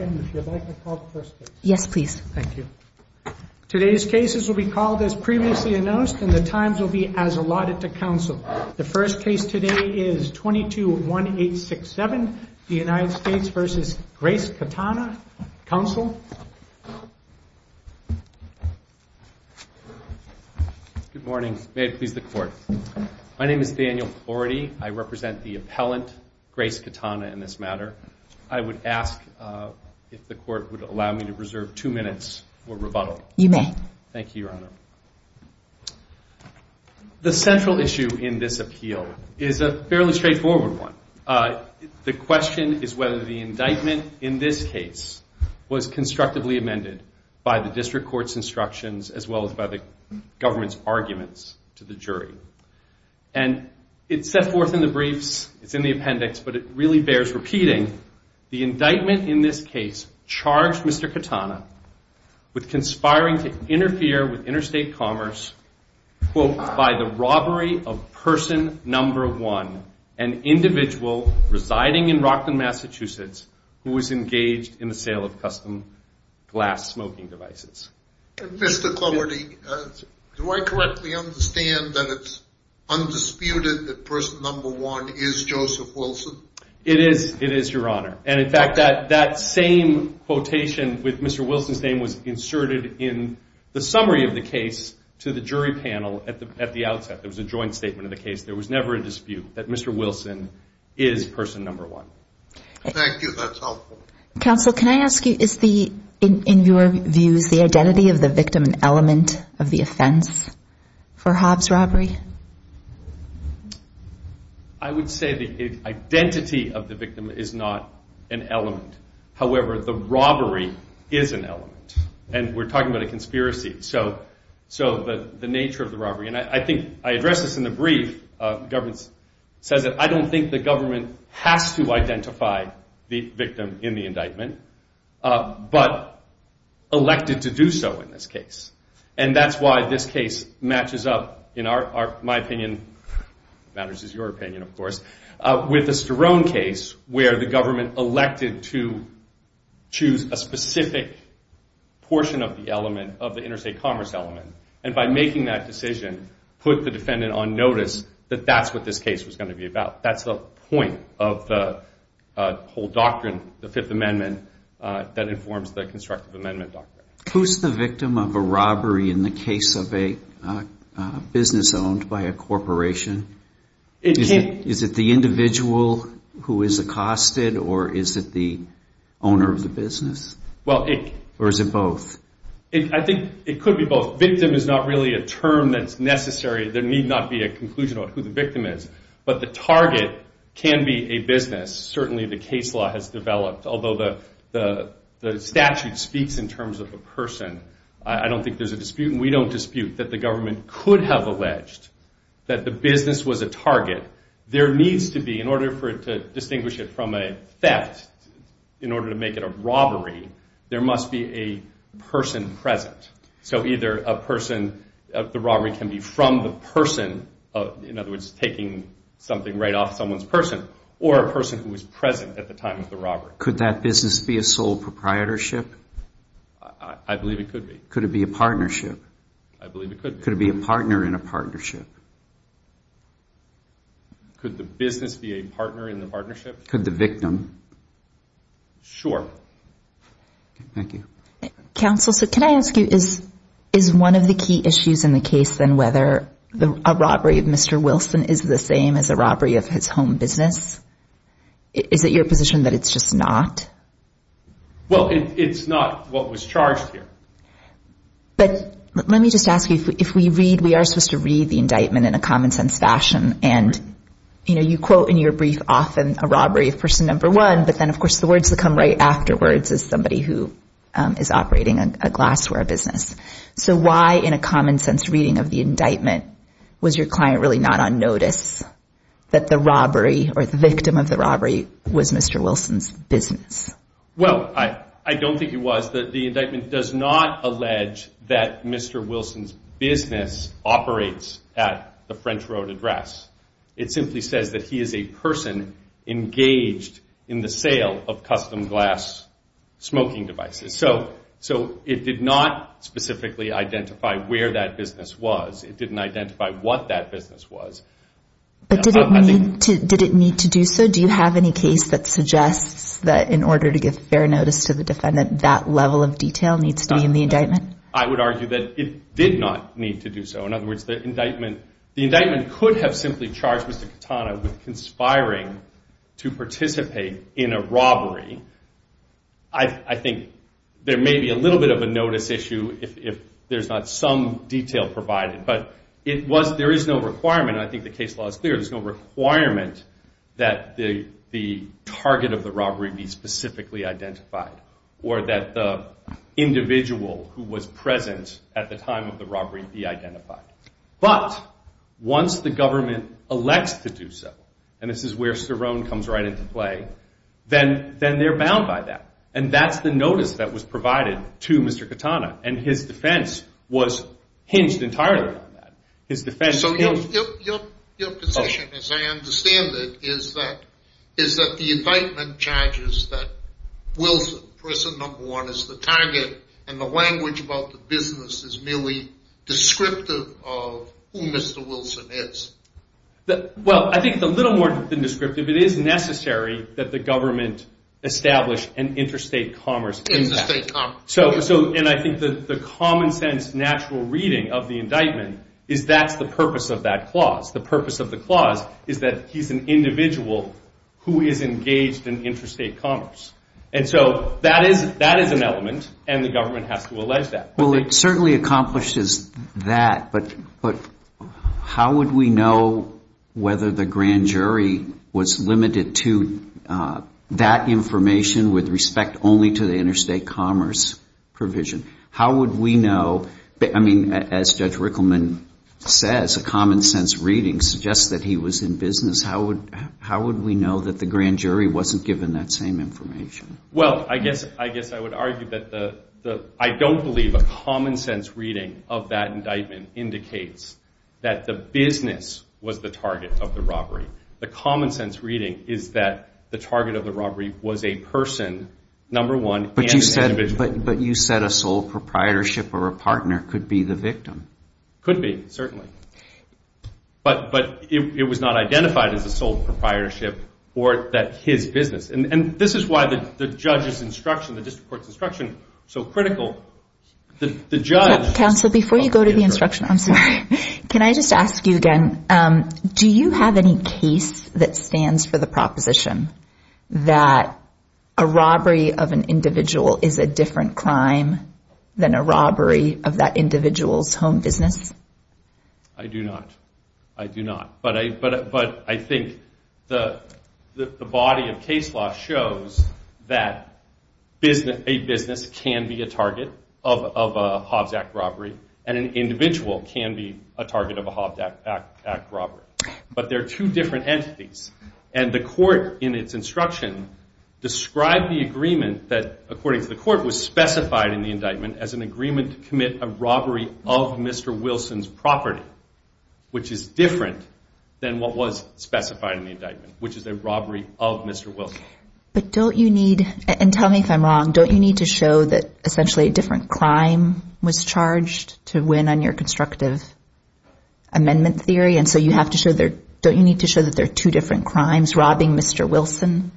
and the Times will be as allotted to counsel. The first case today is 22-1867, the United States v. Grace Katana. Counsel? Good morning. May it please the Court. My name is Daniel Smith. If the Court would allow me to reserve two minutes for rebuttal. You may. Thank you, Your Honor. The central issue in this appeal is a fairly straightforward one. The question is whether the indictment in this case was constructively amended by the district court's instructions as well as by the government's arguments to the jury. And it's set forth in the briefs, it's in the appendix, but it really bears repeating. The indictment in this case charged Mr. Katana with conspiring to interfere with interstate commerce, quote, by the robbery of person number one, an individual residing in Rockland, Massachusetts, who was engaged in the sale of custom glass smoking devices. Mr. Clowardy, do I correctly understand that it's undisputed that person number one is Joseph Wilson? It is, it is, Your Honor. And in fact, that same quotation with Mr. Wilson's name was inserted in the summary of the case to the jury panel at the outset. It was a joint statement of the case. There was never a dispute that Mr. Wilson is person number one. Thank you, that's helpful. Counsel, can I ask you, is the, in your views, the identity of the victim an element of the offense for Hobbs robbery? I would say the identity of the victim is not an element. However, the robbery is an element. And we're talking about a conspiracy. So the nature of the robbery, and I think I addressed this in the brief, the government says that I don't think the government has to identify the victim in the indictment, but elected to do so in this case. And that's why this case matches up, in our, my opinion, matters is your opinion, of course, with the Sterone case where the government elected to choose a specific portion of the element of the interstate commerce element. And by making that decision, put the defendant on notice that that's what this case was going to be about. That's the point of the whole doctrine, the Fifth Amendment, that informs the constructive amendment doctrine. Who's the victim of a robbery in the case of a business owned by a corporation? Is it the individual who is accosted, or is it the owner of the business? Or is it both? I think it could be both. Victim is not really a term that's necessary. There need not be a conclusion on who the victim is. But the target can be a business. Certainly the case law has developed, although the statute speaks in terms of a person. I don't think there's a dispute, and we don't dispute that the government could have alleged that the business was a target. There needs to be, in order for it to distinguish it from a theft, in order to make it a robbery, there must be a person present. So either a person, the robbery can be from the person, in other words, taking something right off someone's person, or a person who was present at the time of the robbery. Could that business be a sole proprietorship? I believe it could be. Could it be a partnership? I believe it could be. Could it be a partner in a partnership? Could the business be a partner in the partnership? Could the victim? Sure. Thank you. Counsel, so can I ask you, is one of the key issues in the case, then, whether a robbery of Mr. Wilson is the same as a robbery of his home business? Is it your position that it's just not? Well, it's not what was charged here. But let me just ask you, if we read, we are supposed to read the indictment in a common sense fashion, and you quote in your brief often a robbery of person number one, but then of course the words that come right afterwards is somebody who is operating a glassware business. So why, in a common sense reading of the indictment, was your client really not on notice that the robbery or the victim of the robbery was Mr. Wilson's business? Well, I don't think it was. The indictment does not allege that Mr. Wilson's business operates at the French Road address. It simply says that he is a person engaged in the sale of custom glass smoking devices. So it did not specifically identify where that business was. It didn't need to do so. Do you have any case that suggests that in order to give fair notice to the defendant, that level of detail needs to be in the indictment? I would argue that it did not need to do so. In other words, the indictment could have simply charged Mr. Katana with conspiring to participate in a robbery. I think there may be a little bit of a notice issue if there's not some detail provided. But there is no requirement, and I think the case law is clear, there's no requirement that the target of the robbery be specifically identified or that the individual who was present at the time of the robbery be identified. But once the government elects to do so, and this is where Cerrone comes right into play, then they're bound by that. And that's the notice that was provided to Mr. Katana. And his defense was hinged entirely on that. So your position, as I understand it, is that the indictment charges that Wilson, person number one, is the target, and the language about the business is merely descriptive of who Mr. Wilson is. Well, I think a little more than descriptive. It is necessary that the government establish an interstate commerce impact. And I think that the common natural reading of the indictment is that's the purpose of that clause. The purpose of the clause is that he's an individual who is engaged in interstate commerce. And so that is an element, and the government has to allege that. Well, it certainly accomplishes that, but how would we know whether the grand jury was limited to that information with respect only to the interstate commerce provision? How would we know? I mean, as Judge Rickleman says, a common sense reading suggests that he was in business. How would we know that the grand jury wasn't given that same information? Well, I guess I would argue that I don't believe a common sense reading of that indictment indicates that the business was the target of the robbery. The common sense reading is that the target of the robbery was a person, number one, and an individual. But you said a sole proprietorship or a partner could be the victim. Could be, certainly. But it was not identified as a sole proprietorship or that his business. And this is why the judge's instruction, the district court's instruction is so critical. Counsel, before you go to the instruction, I'm sorry. Can I just ask you again, do you have any case that stands for the proposition that a robbery of an individual is a different crime than a robbery of that individual's home business? I do not. I do not. But I think the body of case law shows that a business can be a target of a individual can be a target of a Hobbs Act robbery. But there are two different entities. And the court in its instruction described the agreement that, according to the court, was specified in the indictment as an agreement to commit a robbery of Mr. Wilson's property, which is different than what was specified in the indictment, which is a robbery of Mr. Wilson. But don't you need, and tell me if I'm wrong, don't you need to show that essentially a different crime was charged to win your constructive amendment theory? And so you have to show there, don't you need to show that there are two different crimes, robbing Mr. Wilson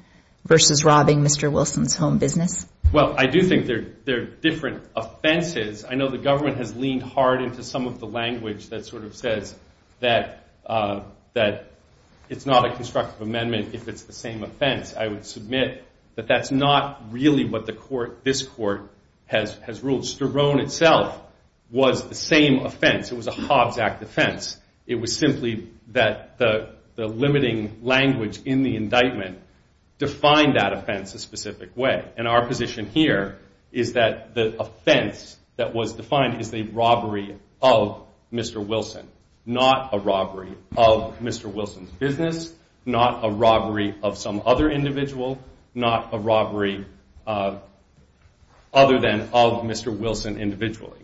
versus robbing Mr. Wilson's home business? Well, I do think they're different offenses. I know the government has leaned hard into some of the language that sort of says that it's not a constructive amendment if it's the same offense. I would submit that that's not really what the court, this court, has ruled. Sterone itself was the same offense. It was a Hobbs Act offense. It was simply that the limiting language in the indictment defined that offense a specific way. And our position here is that the offense that was defined is the robbery of Mr. Wilson, not a robbery of Mr. Wilson's business, not a robbery of some other individual, not a robbery other than of Mr. Wilson individually.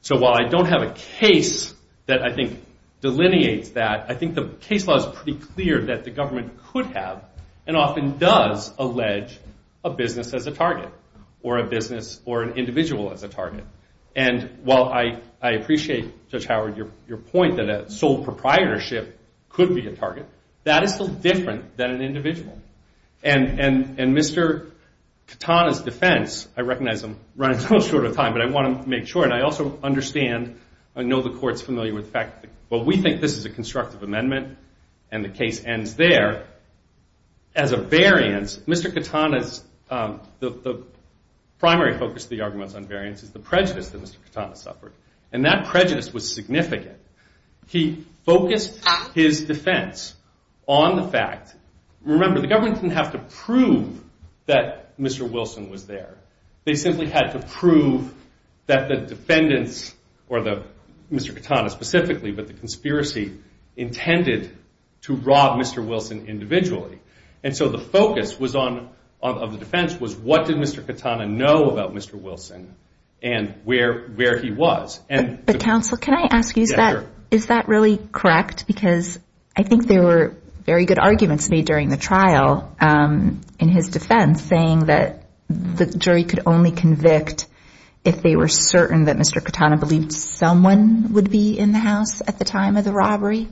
So while I don't have a case that I think delineates that, I think the case law is pretty clear that the government could have, and often does, allege a business as a target, or a business or an individual as a target. And while I appreciate, Judge Howard, your point that a sole proprietorship could be a target, that is still different than an individual. And Mr. Katana's defense, I recognize I'm running a little short of time, but I want to make sure, and I also understand, I know the court's familiar with the fact that, well, we think this is a constructive amendment, and the case ends there. As a variance, Mr. Katana's, the primary focus of the argument on variance is the prejudice that Mr. Katana suffered. And that prejudice was significant. He focused his defense on the fact, remember, the government didn't have to prove that Mr. Wilson was there. They simply had to prove that the defendants, or Mr. Katana specifically, but the conspiracy intended to rob Mr. Wilson individually. And so the focus was on, of the defense, was what did Mr. Katana know about Mr. Wilson, and where he was. But counsel, can I ask you, is that really correct? Because I think there were very good arguments made during the trial in his defense, saying that the jury could only convict if they were certain that Mr. Katana believed someone would be in the house at the time of the robbery.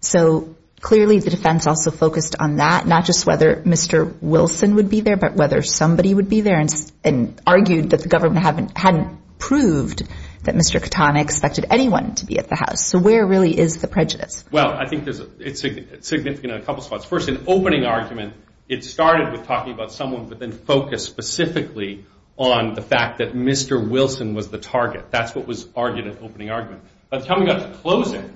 So clearly the defense also focused on that, not just whether Mr. Wilson would be there, but whether somebody would be there, and argued that the government hadn't proved that Mr. Katana expected anyone to be at the house. So where really is the prejudice? Well, I think it's significant in a couple spots. First, in opening argument, it started with talking about someone, but then focused specifically on the fact that Mr. Wilson was the target. That's what was argued in opening argument. By the time we got to closing,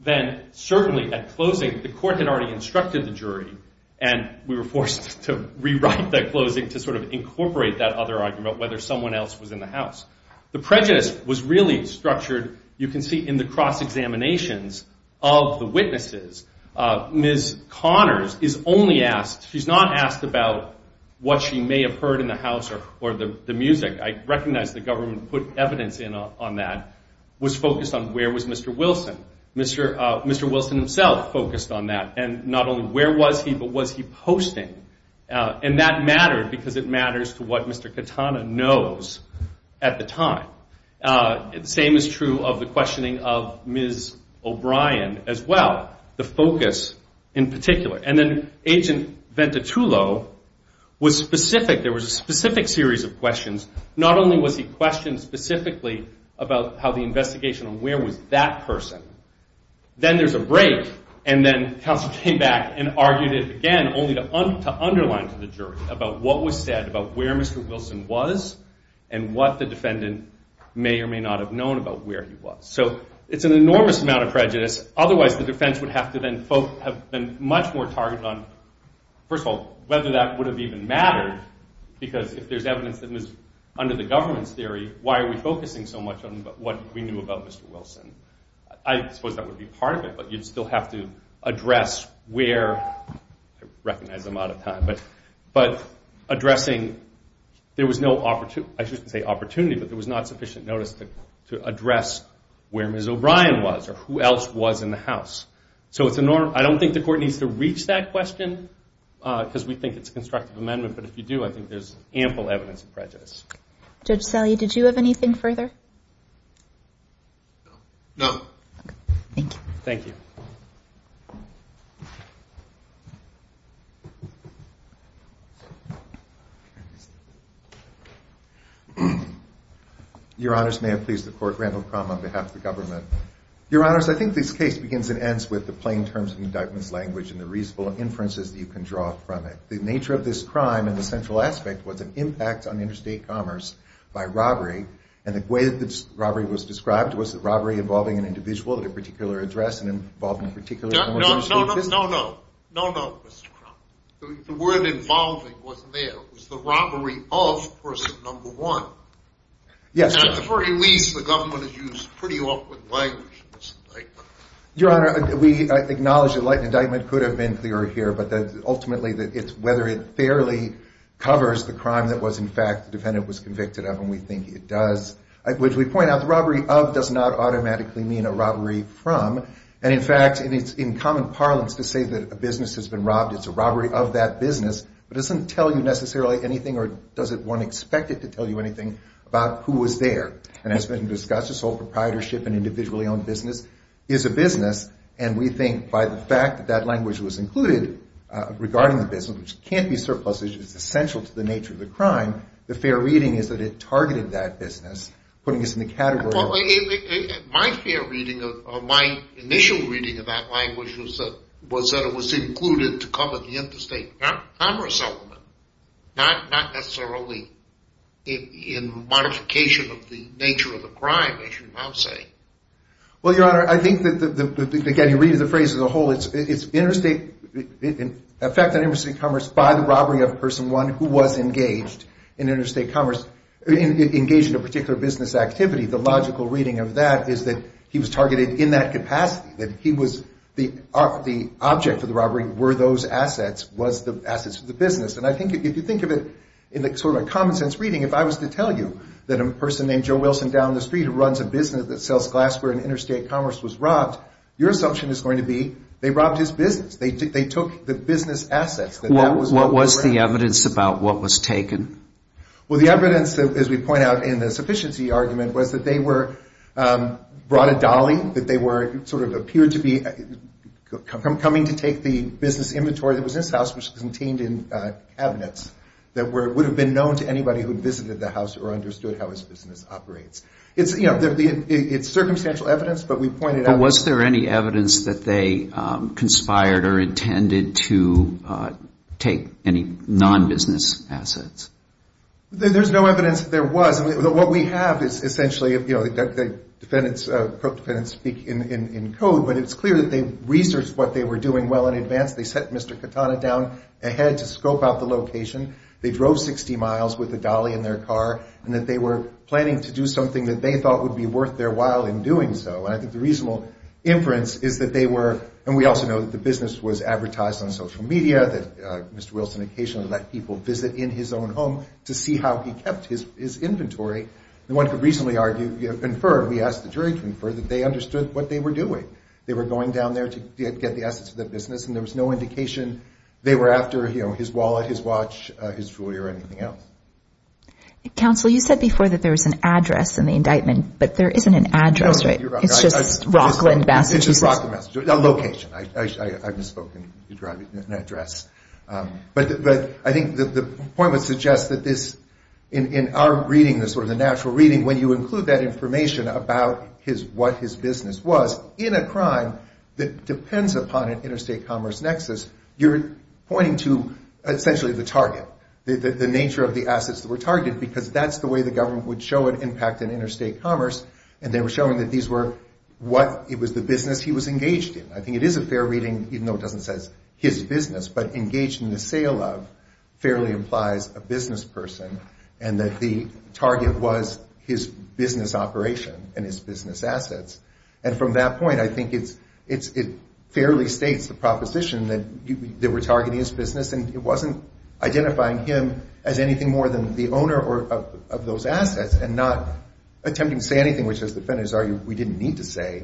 then certainly at closing, the court had already instructed the jury, and we were forced to rewrite that closing to sort of incorporate that other argument, whether someone else was in the house. The prejudice was really structured, you can see, in the cross-examinations of the witnesses. Ms. Connors is only asked, she's not asked about what she may have heard in the house, or the music. I recognize the government put evidence in on that, was focused on where was Mr. Wilson. Mr. Wilson himself focused on that, and not only where was he, but was he posting? And that mattered, because it matters to what Mr. Katana knows at the time. The same is true of the questioning of Ms. O'Brien as well, the focus in particular. And then Agent Ventitullo was specific, there was a specific series of questions. Not only was he questioned specifically about how the investigation on where was that person, then there's a break, and then counsel came back and argued it again, only to underline to the jury about what was said, about where Mr. Wilson was, and what the defendant may or may not have known about where he was. So it's an enormous amount of prejudice, otherwise the defense would have to have been much more targeted on, first of all, whether that would have even mattered, because if there's evidence that was under the government's theory, why are we focusing so much on what we knew about Mr. Wilson? I suppose that would be part of it, but you'd still have to address where, I recognize I'm out of time, but addressing, there was no opportunity, I shouldn't say opportunity, but there was not sufficient notice to address where Ms. O'Brien was, or who else was in the house. I don't think the court needs to reach that question, because we think it's a constructive amendment, but if you do, I think there's ample evidence of prejudice. Judge Salley, did you have anything further? No. Thank you. Your Honors, may I please the court, Randall Crum on behalf of the government. Your Honors, I think this case begins and ends with the plain terms of the indictment's language and the reasonable inferences that you can draw from it. The nature of this crime and the central aspect was an impact on interstate commerce by robbery, and the way the robbery was described was the robbery involving an individual at a particular address and involving a particular number of people. No, no, no, no, no, no, no, Mr. Crum. The word involving wasn't there. It was the robbery of person number one. Yes, sir. And at the very least, the government has used pretty awkward language in this indictment. Your Honor, we acknowledge the indictment could have been clearer here, but ultimately, whether it fairly covers the crime that was in fact the defendant was convicted of, and we think it does, which we point out the robbery of does not automatically mean a robbery from, and in fact, it's in common parlance to say that a business has been robbed. It's a robbery of that business, but it doesn't tell you necessarily anything or doesn't one expect it to tell you anything about who was there. And as has been discussed, this whole proprietorship and individually owned business is a business, and we think by the fact that that language was included regarding the business, which can't be surplused, which is essential to the nature of the crime, the fair reading is that it targeted that business, putting us in the category of Well, my fair reading or my initial reading of that language was that it was included to cover the interstate commerce element, not necessarily in modification of the nature of the crime, as you now say. Well, Your Honor, I think that, again, you read the phrase as a whole, it's interstate, in fact, that interstate commerce by the robbery of person one who was engaged in interstate commerce, engaged in a particular business activity, the logical reading of that is that he was targeted in that capacity, that he was, the object of the robbery were those assets, was the assets of the business, and I think if you think of it in sort of a common sense reading, if I was to tell you that a person named Joe Wilson down the street who runs a business that sells glassware in interstate commerce was robbed, your assumption is going to be that they robbed his business. They took the business assets. What was the evidence about what was taken? Well, the evidence, as we point out in the sufficiency argument, was that they were brought a dolly, that they were sort of appeared to be coming to take the business inventory that was in this house, which was contained in cabinets that would have been known to anybody who conspired or intended to take any non-business assets. There's no evidence that there was. I mean, what we have is essentially, you know, defendants, co-defendants speak in code, but it's clear that they researched what they were doing well in advance. They set Mr. Katana down ahead to scope out the location. They drove 60 miles with a dolly in their car and that they were planning to do something that they thought would be worth their while in doing so, and I think the reasonable inference is that they were, and we also know that the business was advertised on social media, that Mr. Wilson occasionally let people visit in his own home to see how he kept his inventory. And one could reasonably argue, infer, we asked the jury to infer that they understood what they were doing. They were going down there to get the assets of the business and there was no indication they were after, you know, his wallet, his watch, his jewelry or anything else. Counsel, you said before that there was an address in the indictment, but there isn't an address, right? It's just Rockland, Massachusetts. It's just Rockland, Massachusetts. Location. I misspoken. You're driving an address. But I think the point would suggest that this, in our reading, the sort of the natural reading, when you include that information about his, what his business was, in a crime that depends upon an interstate commerce nexus, you're pointing to essentially the target. The nature of the assets that were targeted, because that's the way the government would show an impact in interstate commerce, and they were showing that these were what, it was the business he was engaged in. I think it is a fair reading, even though it doesn't say his business, but engaged in the sale of fairly implies a business person and that the target was his business operation and his business assets. And from that point, I think it's, it fairly states the proposition that they were targeting his business and it wasn't identifying him as anything more than the owner of those assets and not attempting to say anything, which as defendants argue, we didn't need to say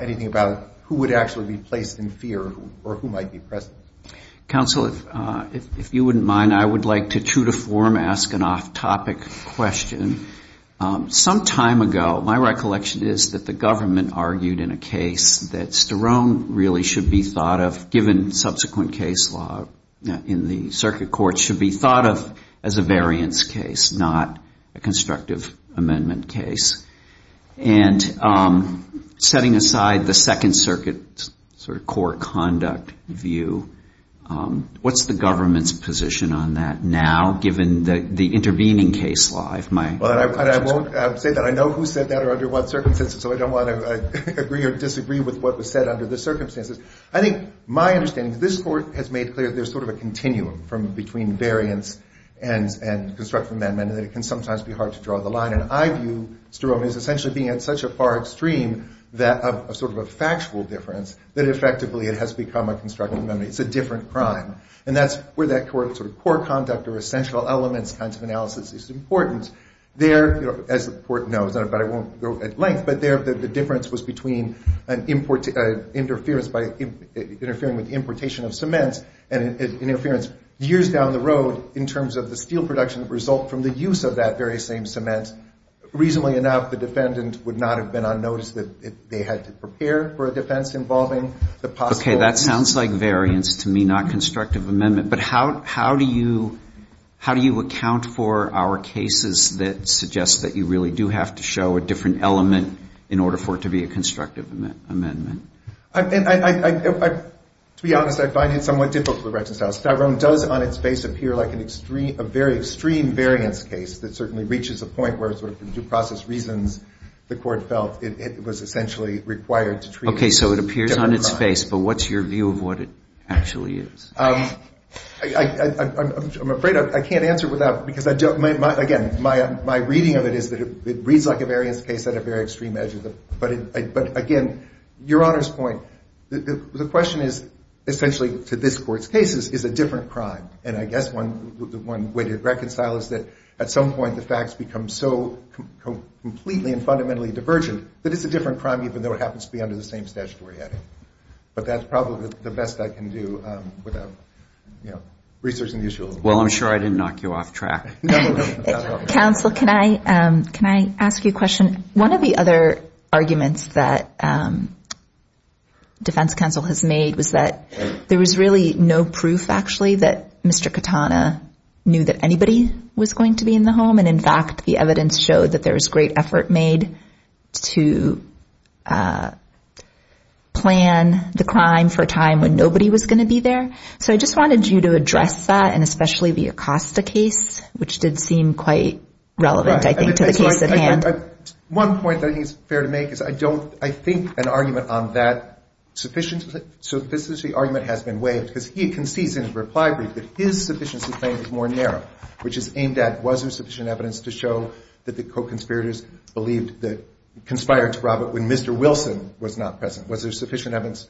anything about who would actually be placed in fear or who might be present. Counsel, if you wouldn't mind, I would like to true to form ask an off-topic question. Some time ago, my recollection is that the government argued in a case that Sterone really should be thought of, given subsequent case law in the circuit court, should be thought of as a variance case, not a constructive amendment case. And setting aside the second circuit sort of core conduct view, what's the government's position on that now, given the intervening case law? I won't say that. I know who said that or under what circumstances, so I don't want to agree or disagree with what was said under the circuit court, but I do think that there is a difference and constructive amendment and it can sometimes be hard to draw the line. And I view Sterone as essentially being at such a far extreme of sort of a factual difference that effectively it has become a constructive amendment. It's a different crime. And that's where that core conduct or essential elements kind of analysis is important. There, as the court knows, but I won't go at length, but there the difference was between an interference by interfering with importation of cements and an interference years down the road in terms of the steel production result from the use of that very same cement. Reasonably enough, the defendant would not have been unnoticed if they had to prepare for a defense involving the possible. Okay. That sounds like variance to me, not constructive amendment. But how do you account for our cases that suggest that you really do have to show a different element in order for it to be a constructive amendment? To be honest, I find it somewhat difficult to reconcile. Sterone does on its face appear like a very extreme variance case that certainly reaches a point where sort of due process reasons the court felt it was essentially required to treat it as a different crime. Okay. So it appears on its face, but what's your view of what it actually is? I'm afraid I can't answer without, because again, my reading of it is that it reads like a variance case at a very extreme edge. But again, you're honor's point, the question is essentially to this court's cases is a different crime. And I guess one way to reconcile is that at some point the facts become so completely and fundamentally divergent that it's a different crime even though it happens to be under the same statutory heading. But that's probably the best I can do without, you know, researching the issue a little bit more. Well, I'm sure I didn't knock you off track. Counsel, can I ask you a question? One of the other arguments that defense counsel has made was that there was really no proof, actually, that Mr. Katana knew that anybody was going to be in the home. And in fact, the evidence showed that there was great effort made to plan the crime for a time when there was no evidence, which did seem quite relevant, I think, to the case at hand. One point that I think is fair to make is I think an argument on that sufficiency argument has been waived because he concedes in his reply brief that his sufficiency claim is more narrow, which is aimed at was there sufficient evidence to show that the co-conspirators believed, conspired to rob it when Mr. Wilson was not present? Was there sufficient evidence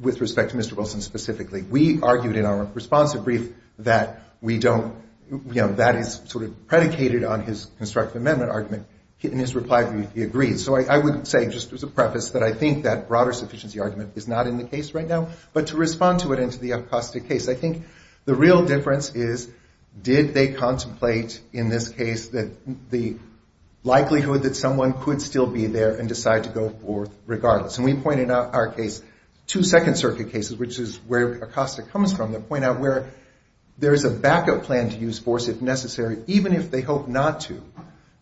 with respect to Mr. Wilson specifically? We argued in our responsive brief that we don't, you know, that is sort of predicated on his constructive amendment argument. In his reply brief, he agreed. So I would say, just as a preface, that I think that broader sufficiency argument is not in the case right now, but to respond to it into the Acosta case. I think the real difference is did they contemplate in this case that the likelihood that someone could still be there and decide to go forth regardless? And we point in our case, two Second Circuit cases, which is where Acosta comes from, that point out where the likelihood that there is a back-up plan to use force if necessary, even if they hope not to,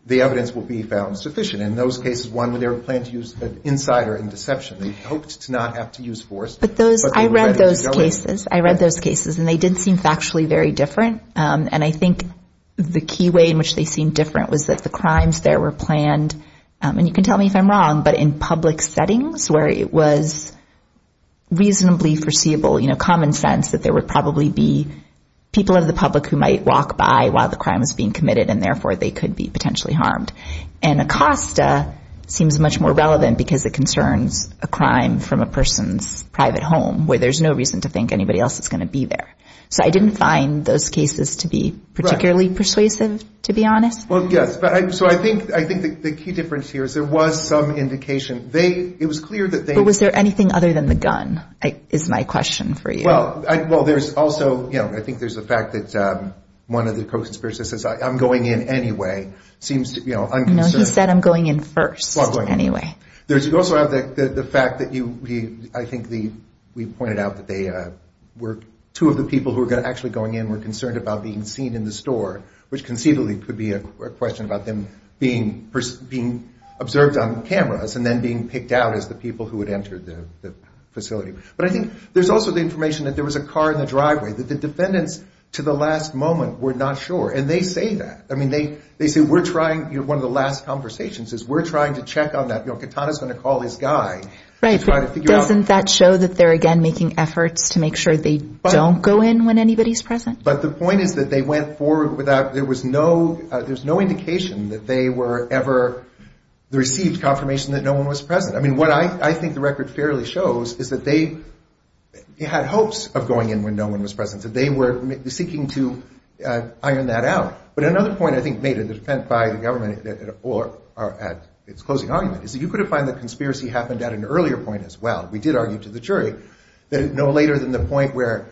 the evidence will be found sufficient. In those cases, one, they would plan to use an insider in deception. They hoped to not have to use force, but they were ready to go in. I read those cases, and they did seem factually very different. And I think the key way in which they seemed different was that the crimes there were planned, and you can tell me if I'm wrong, but in public settings where it was reasonably foreseeable, you know, common sense that there would probably be people in the public who might walk by while the crime was being committed, and therefore, they could be potentially harmed. And Acosta seems much more relevant because it concerns a crime from a person's private home, where there's no reason to think anybody else is going to be there. So I didn't find those cases to be particularly persuasive, to be honest. Well, yes. So I think the key difference here is there was some indication. It was clear that they was there. Is there anything other than the gun is my question for you? Well, there's also, you know, I think there's the fact that one of the co-conspirators says, I'm going in anyway. Seems, you know, unconcerned. No, he said, I'm going in first anyway. There's also the fact that you, I think we pointed out that two of the people who were actually going in were concerned about being seen in the facility. But I think there's also the information that there was a car in the driveway, that the defendants to the last moment were not sure. And they say that. I mean, they say we're trying, you know, one of the last conversations is we're trying to check on that. You know, Katana's going to call his guy. Doesn't that show that they're, again, making efforts to make sure they don't go in when anybody's present? But the point is that they went forward without, there was no, there's no indication that they were ever received confirmation that no one was present. I mean, what I think the record fairly shows is that they had hopes of going in when no one was present. So they were seeking to iron that out. But another point I think made in the defense by the government or at its closing argument is that you could have find the conspiracy happened at an earlier point as well. We did argue to the jury that no later than the point where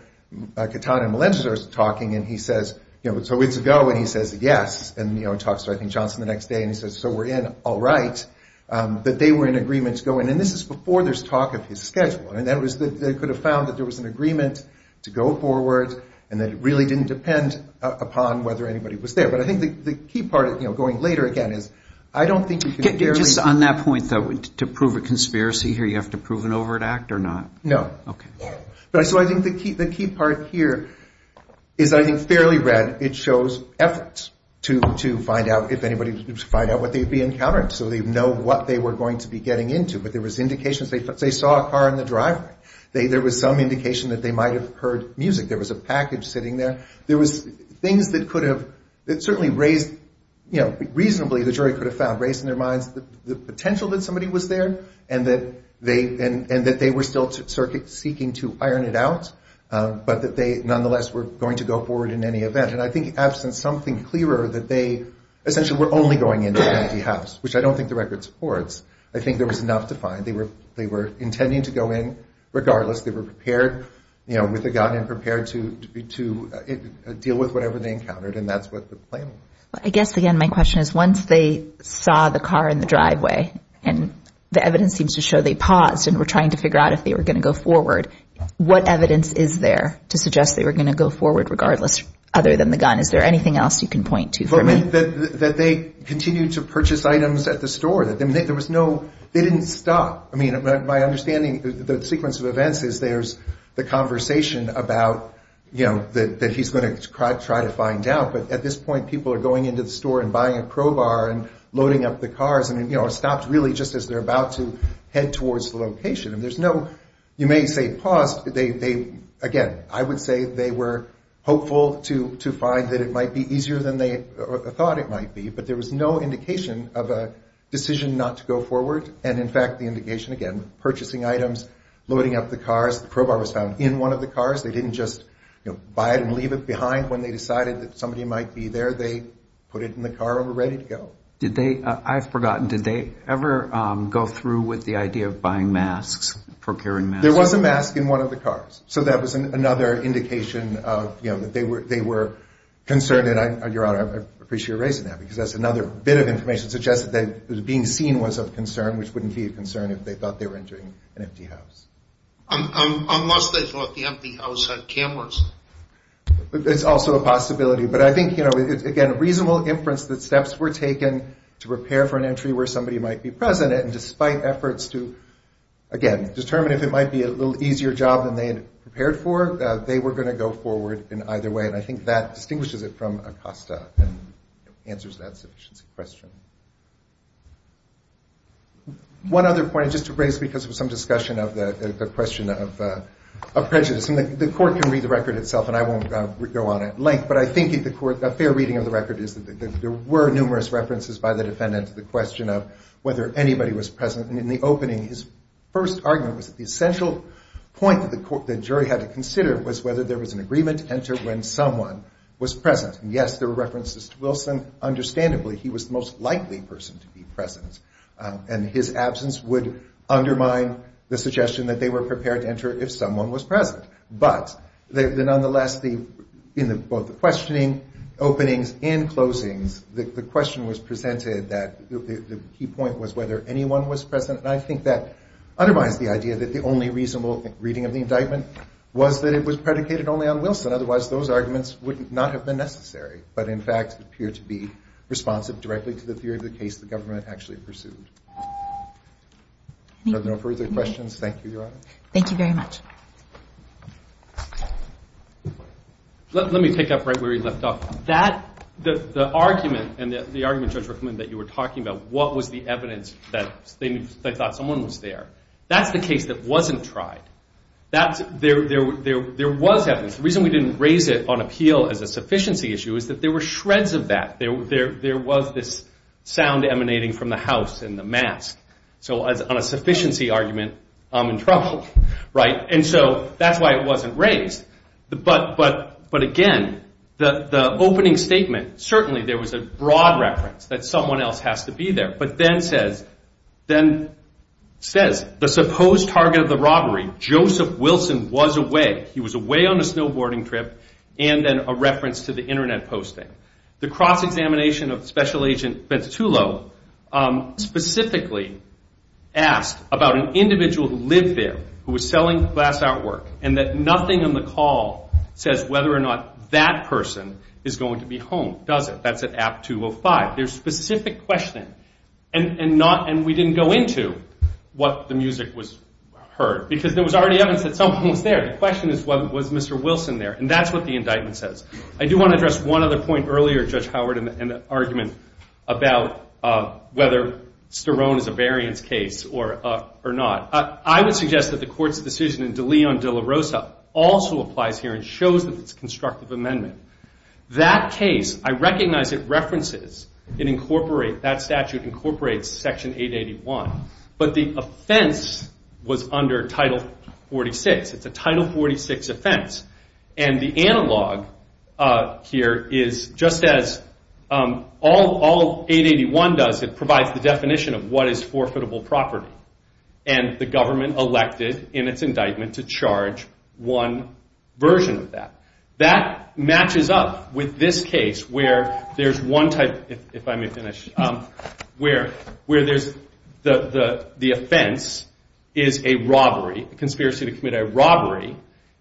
Katana and Johnson were talking and he says, you know, so it's a go and he says yes. And, you know, he talks to I think Johnson the next day and he says, so we're in. All right. But they were in agreement to go in. And this is before there's talk of his schedule. I mean, that was, they could have found that there was an agreement to go forward and that it really didn't depend upon whether anybody was there. But I think the key part, you know, going later again is I don't think you can... On that point, though, to prove a conspiracy here, you have to prove an overt act or not? No. So I think the key part here is I think fairly red. It shows effort to find out if anybody would find out what they would be encountering. So they know what they were going to be getting into. But there was indications. They saw a car in the driveway. There was some indication that they might have heard music. There was a package sitting there. There was things that could have certainly raised, you know, reasonably the jury could have found raised in their minds the potential that somebody was there and that they were still seeking to iron it out, but that they nonetheless were going to go forward in any event. And I think in absence, something clearer that they essentially were only going into an empty house, which I don't think the record supports. I think there was enough to find. They were intending to go in regardless. They were prepared, you know, with a gun and prepared to deal with whatever they were going to deal with. I guess, again, my question is once they saw the car in the driveway and the evidence seems to show they paused and were trying to figure out if they were going to go forward, what evidence is there to suggest they were going to go forward regardless other than the gun? Is there anything else you can point to for me? That they continued to purchase items at the store. There was no they didn't stop. I mean, my understanding, the sequence of events is there's the conversation about, you know, that he's going to try to find out. But at this point, people are going to the store and buying a crowbar and loading up the cars. And, you know, it stopped really just as they're about to head towards the location. And there's no, you may say paused. Again, I would say they were hopeful to find that it might be easier than they thought it might be. But there was no indication of a decision not to go forward. And, in fact, the indication, again, purchasing items, loading up the cars, the crowbar was found in one of the cars. They didn't just buy it and leave it behind when they decided that somebody might be there. They put it in the car and were ready to go. I've forgotten. Did they ever go through with the idea of buying masks, procuring masks? There was a mask in one of the cars. So that was another indication that they were concerned. And, Your Honor, I appreciate you raising that, because that's another bit of information suggested that being seen was of concern, which wouldn't be a concern if they thought they were buying an empty house. It's also a possibility. But I think, you know, again, reasonable inference that steps were taken to prepare for an entry where somebody might be present. And despite efforts to, again, determine if it might be a little easier job than they had prepared for, they were going to go forward in either way. And I think that distinguishes it from ACOSTA and answers that question. One other point, just to raise because of some discussion of the question of prejudice. And the court can read the record itself, and I won't go on at length, but I think the fair reading of the record is that there were numerous references by the defendant to the question of whether anybody was present. And in the opening, his first argument was that the essential point that the jury had to consider was whether there was an agreement to enter when someone was present. And, yes, there were references to Wilson. Understandably, he was the most likely person to be present. And his absence would undermine the suggestion that they were prepared to enter if someone was present. But nonetheless, in both the questioning openings and closings, the question was presented that the key point was whether anyone was present. And I think that undermines the idea that the only reasonable reading of the indictment was that it was predicated only on Wilson. Otherwise, those arguments would not have been necessary, but in fact appear to be responsive directly to the theory of the case the government actually pursued. Are there no further questions? Thank you, Your Honor. Thank you very much. Let me pick up right where you left off. The argument, Judge Rookman, that you were talking about, what was the evidence that they thought someone was there? That's the case that wasn't tried. There was evidence. The reason we didn't raise it on appeal as a sufficiency issue is that there were shreds of that. There was this sound emanating from the house and the mask. So on a sufficiency argument, I'm in trouble. And so that's why it wasn't raised. But again, the opening statement, certainly there was a broad reference that someone else has to be there. But then it says, the supposed target of the robbery, Joseph Wilson, was away. He was away on a snowboarding trip. And then a reference to the Internet posting. The cross-examination of Special Agent Ventitullo specifically asked about an individual who lived there, who was selling glass artwork, and that nothing on the call says whether or not that person is going to be home, does it? That's at app 205. There's specific questioning. And we didn't go into what the music was heard, because there was already evidence that someone was there. The question is, was Mr. Wilson there? And that's what the indictment says. I do want to address one other point earlier, Judge Howard, in the argument about whether Sterone is a variance case or not. I would suggest that the Court's decision in De Leon de la Rosa also applies here and shows that it's a constructive amendment. That case, I recognize it references and incorporates, that statute incorporates Section 881. But the offense was under Title 46. It's a Title 46 offense. And the analog here is just as all 881 does, it provides the definition of what is forfeitable property. And the government elected in its indictment to charge one version of that. That matches up with this case where there's one type, if I may finish, where there's the offense is a robbery, a conspiracy to commit a robbery,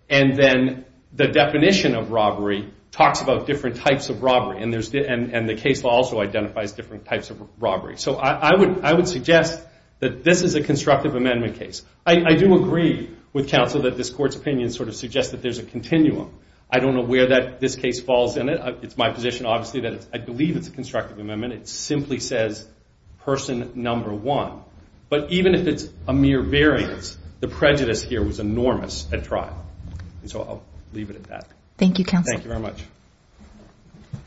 and then the definition of robbery talks about different types of robbery. And the case also identifies different types of robbery. So I would suggest that this is a constructive amendment case. I do agree with counsel that this Court's opinion sort of suggests that there's a continuum. I don't know where this case falls in it. It's my position, obviously, that I believe it's a constructive amendment. It simply says, person number one. But even if it's a mere variance, the prejudice here was enormous at trial. And so I'll leave it at that.